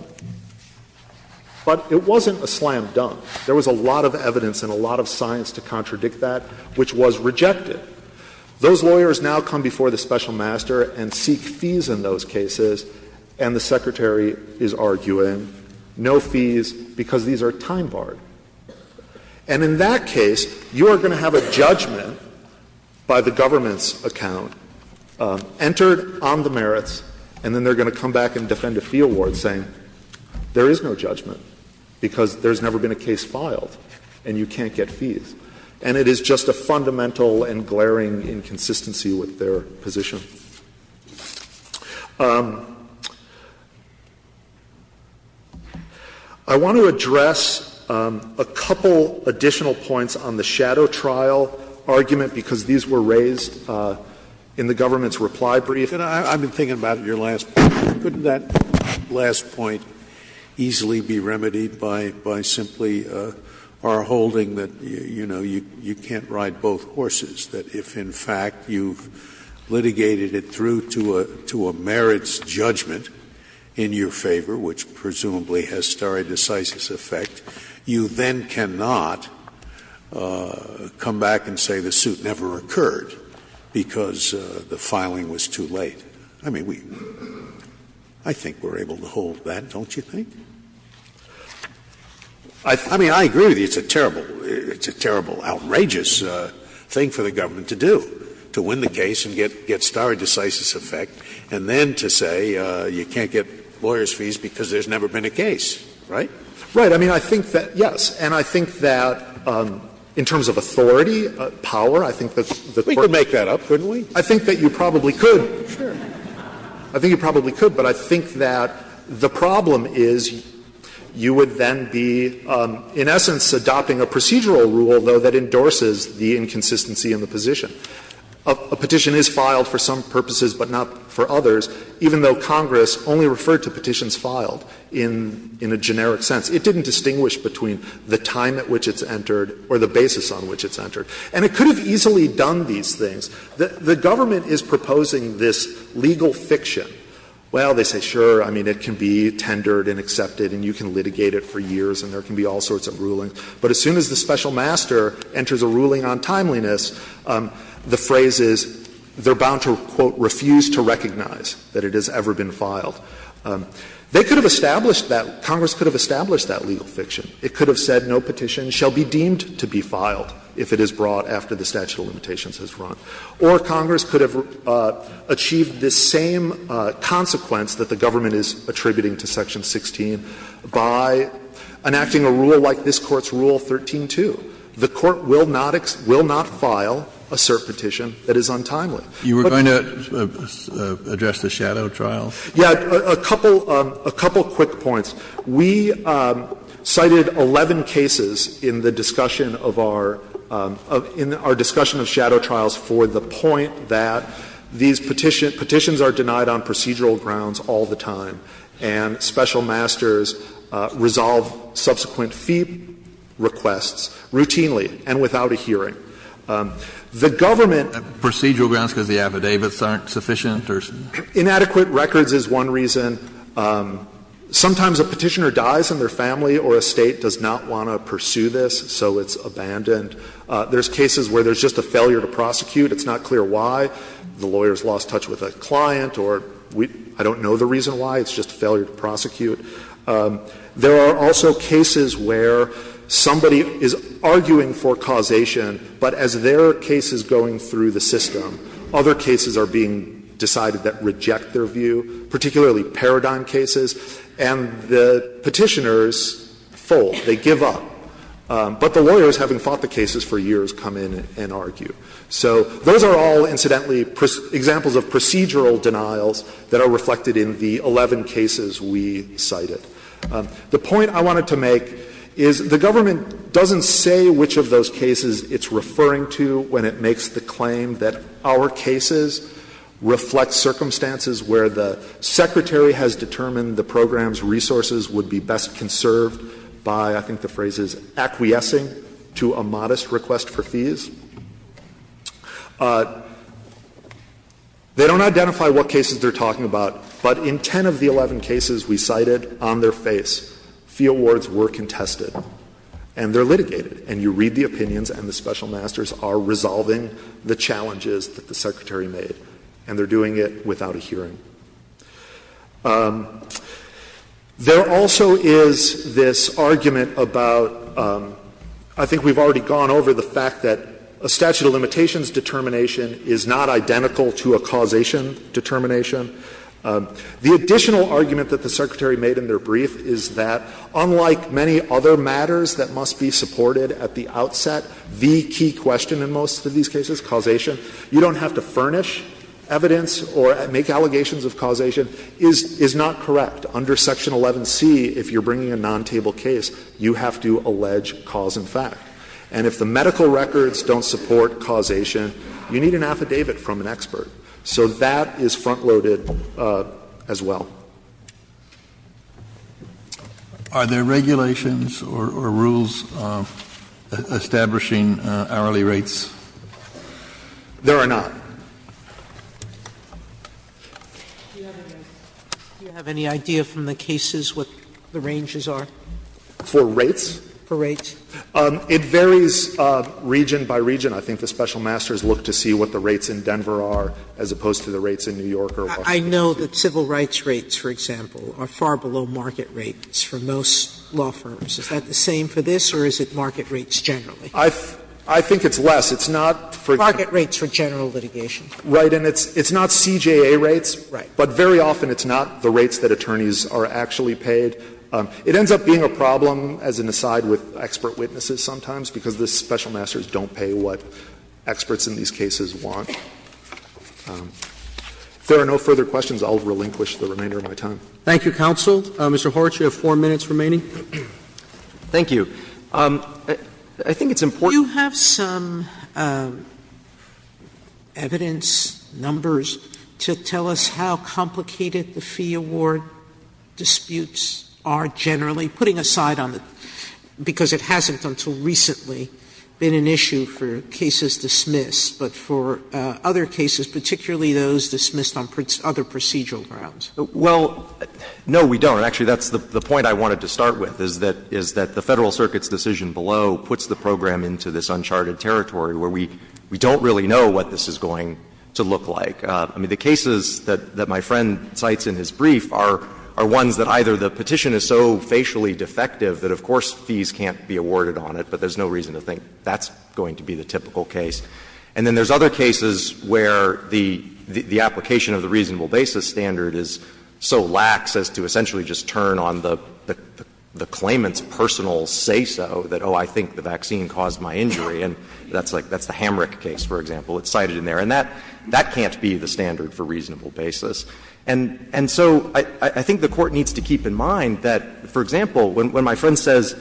But it wasn't a slam dunk. There was a lot of evidence and a lot of science to contradict that, which was rejected. Those lawyers now come before the special master and seek fees in those cases, and the Secretary is arguing no fees because these are time barred. And in that case, you are going to have a judgment by the government's account entered on the merits, and then they're going to come back and defend a fee award saying there is no judgment because there's never been a case filed and you can't get fees. And it is just a fundamental and glaring inconsistency with their position. I want to address a couple additional points on the shadow trial argument because these were raised in the government's reply brief. And I've been thinking about your last point. easily be remedied by simply our holding that, you know, you can't ride both horses, that if, in fact, you've litigated it through to a merits judgment in your favor, which presumably has stare decisis effect, you then cannot come back and say the suit never occurred because the filing was too late. I mean, we, I think we're able to hold that, don't you think? I mean, I agree with you, it's a terrible, it's a terrible, outrageous thing for the government to do, to win the case and get stare decisis effect, and then to say you can't get lawyers' fees because there's never been a case, right? Right. I mean, I think that, yes. And I think that in terms of authority, power, I think that the Court could make that up, couldn't we? I think that you probably could. Sure. I think you probably could. But I think that the problem is you would then be, in essence, adopting a procedural rule, though, that endorses the inconsistency in the position. A petition is filed for some purposes, but not for others, even though Congress only referred to petitions filed in a generic sense. It didn't distinguish between the time at which it's entered or the basis on which it's entered. And it could have easily done these things. The government is proposing this legal fiction. Well, they say, sure, I mean, it can be tendered and accepted and you can litigate it for years and there can be all sorts of rulings. But as soon as the special master enters a ruling on timeliness, the phrase is they are bound to, quote, refuse to recognize that it has ever been filed. They could have established that. Congress could have established that legal fiction. It could have said no petition shall be deemed to be filed if it is brought after the statute of limitations has run. Or Congress could have achieved this same consequence that the government is attributing to Section 16 by enacting a rule like this Court's Rule 13-2. The Court will not file a cert petition that is untimely. But you were going to address the shadow trials? Yeah. A couple quick points. We cited 11 cases in the discussion of our — in our discussion of shadow trials for the point that these petitions are denied on procedural grounds all the time, and special masters resolve subsequent fee requests routinely and without a hearing. The government — Procedural grounds because the affidavits aren't sufficient or — Inadequate records is one reason. Sometimes a petitioner dies and their family or estate does not want to pursue this, so it's abandoned. There's cases where there's just a failure to prosecute. It's not clear why. The lawyer's lost touch with a client or we — I don't know the reason why. It's just a failure to prosecute. There are also cases where somebody is arguing for causation, but as their case is going through the system, other cases are being decided that reject their view, particularly paradigm cases, and the Petitioners fold. They give up. But the lawyers, having fought the cases for years, come in and argue. So those are all, incidentally, examples of procedural denials that are reflected in the 11 cases we cited. The point I wanted to make is the government doesn't say which of those cases it's cases reflect circumstances where the secretary has determined the program's resources would be best conserved by, I think the phrase is, acquiescing to a modest request for fees. They don't identify what cases they're talking about, but in 10 of the 11 cases we cited on their face, fee awards were contested. And they're litigated. And you read the opinions, and the special masters are resolving the challenges that the secretary made. And they're doing it without a hearing. There also is this argument about, I think we've already gone over the fact that a statute of limitations determination is not identical to a causation determination. The additional argument that the secretary made in their brief is that, unlike many other matters that must be supported at the outset, the key question in most of these cases, causation, you don't have to furnish evidence or make allegations of causation, is not correct. Under Section 11C, if you're bringing a non-table case, you have to allege cause and fact. And if the medical records don't support causation, you need an affidavit from an expert. So that is front-loaded as well. Are there regulations or rules establishing hourly rates? There are not. Do you have any idea from the cases what the ranges are? For rates? For rates. It varies region by region. I think the special masters look to see what the rates in Denver are as opposed to the rates in New York or Washington. Sotomayor, I know that civil rights rates, for example, are far below market rates for most law firms. Is that the same for this or is it market rates generally? I think it's less. It's not for general litigation. Right. And it's not CJA rates. Right. But very often it's not the rates that attorneys are actually paid. It ends up being a problem, as an aside, with expert witnesses sometimes, because the special masters don't pay what experts in these cases want. If there are no further questions, I will relinquish the remainder of my time. Thank you, counsel. Mr. Horwich, you have four minutes remaining. Thank you. I think it's important to say that the special masters are not paid what experts in these cases want. You have some evidence, numbers, to tell us how complicated the fee award disputes are generally, putting aside on the — because it hasn't until recently been an issue for cases dismissed, but for other cases, particularly those dismissed on other procedural grounds. Well, no, we don't. Actually, that's the point I wanted to start with, is that the Federal Circuit's decision below puts the program into this uncharted territory where we don't really know what this is going to look like. I mean, the cases that my friend cites in his brief are ones that either the petition is so facially defective that, of course, fees can't be awarded on it, but there's no reason to think that's going to be the typical case. And then there's other cases where the application of the reasonable basis standard is so lax as to essentially just turn on the claimant's personal say-so that, oh, I think the vaccine caused my injury, and that's like the Hamrick case, for example. It's cited in there. And that can't be the standard for reasonable basis. And so I think the Court needs to keep in mind that, for example, when my friend says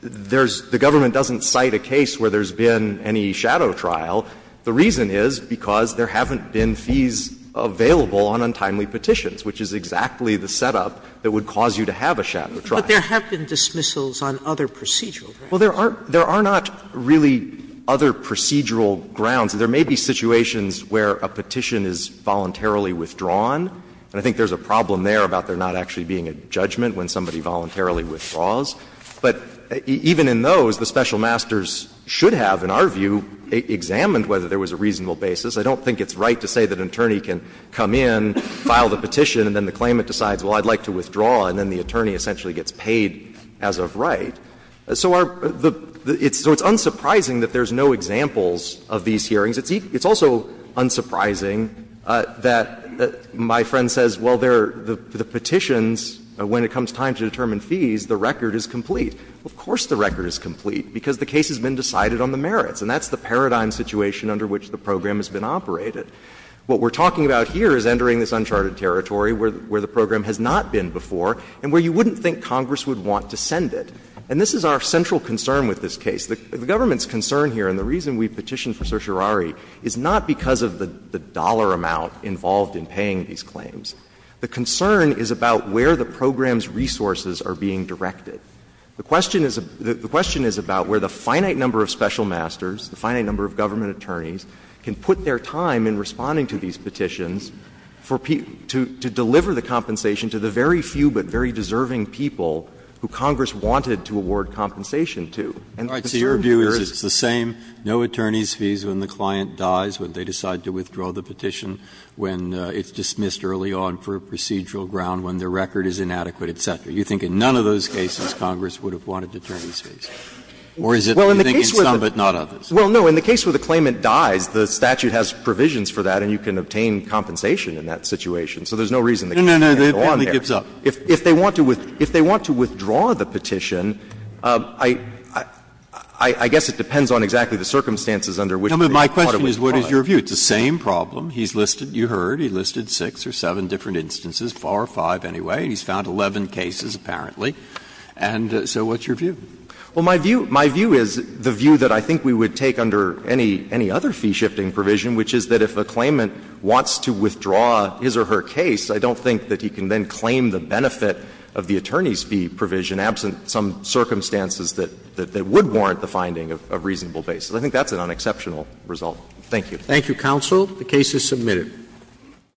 there's the government doesn't cite a case where there's been any shadow trial, the reason is because there haven't been fees available on untimely petitions, which is exactly the setup that would cause you to have a shadow trial. Sotomayor But there have been dismissals on other procedural grounds. Gannon Well, there are not really other procedural grounds. There may be situations where a petition is voluntarily withdrawn, and I think there's a problem there about there not actually being a judgment when somebody voluntarily withdraws. But even in those, the special masters should have, in our view, examined whether there was a reasonable basis. I don't think it's right to say that an attorney can come in, file the petition, and then the claimant decides, well, I'd like to withdraw, and then the attorney essentially gets paid as of right. So our the so it's unsurprising that there's no examples of these hearings. It's also unsurprising that my friend says, well, there are the petitions, when it comes time to determine fees, the record is complete. Of course the record is complete, because the case has been decided on the merits, and that's the paradigm situation under which the program has been operated. What we're talking about here is entering this uncharted territory where the program has not been before and where you wouldn't think Congress would want to send it. And this is our central concern with this case. The government's concern here, and the reason we petitioned for certiorari, is not because of the dollar amount involved in paying these claims. The concern is about where the program's resources are being directed. The question is about where the finite number of special masters, the finite number of government attorneys, can put their time in responding to these petitions for people to deliver the compensation to the very few but very deserving people who Congress wanted to award compensation to. And the concern here is that the same no attorney's fees when the client dies, when it's dismissed early on for a procedural ground, when the record is inadequate, et cetera. You think in none of those cases Congress would have wanted attorney's fees? Or is it, you think, in some but not others? Well, no. In the case where the claimant dies, the statute has provisions for that, and you can obtain compensation in that situation. So there's no reason the client can't go on there. No, no, no, the family gives up. If they want to withdraw the petition, I guess it depends on exactly the circumstances under which the part of it is filed. No, but my question is what is your view? It's the same problem. He's listed, you heard, he listed six or seven different instances, four or five anyway, and he's found 11 cases apparently. And so what's your view? Well, my view, my view is the view that I think we would take under any, any other fee-shifting provision, which is that if a claimant wants to withdraw his or her case, I don't think that he can then claim the benefit of the attorney's fee provision absent some circumstances that, that would warrant the finding of reasonable basis. Thank you. Thank you, counsel. The case is submitted.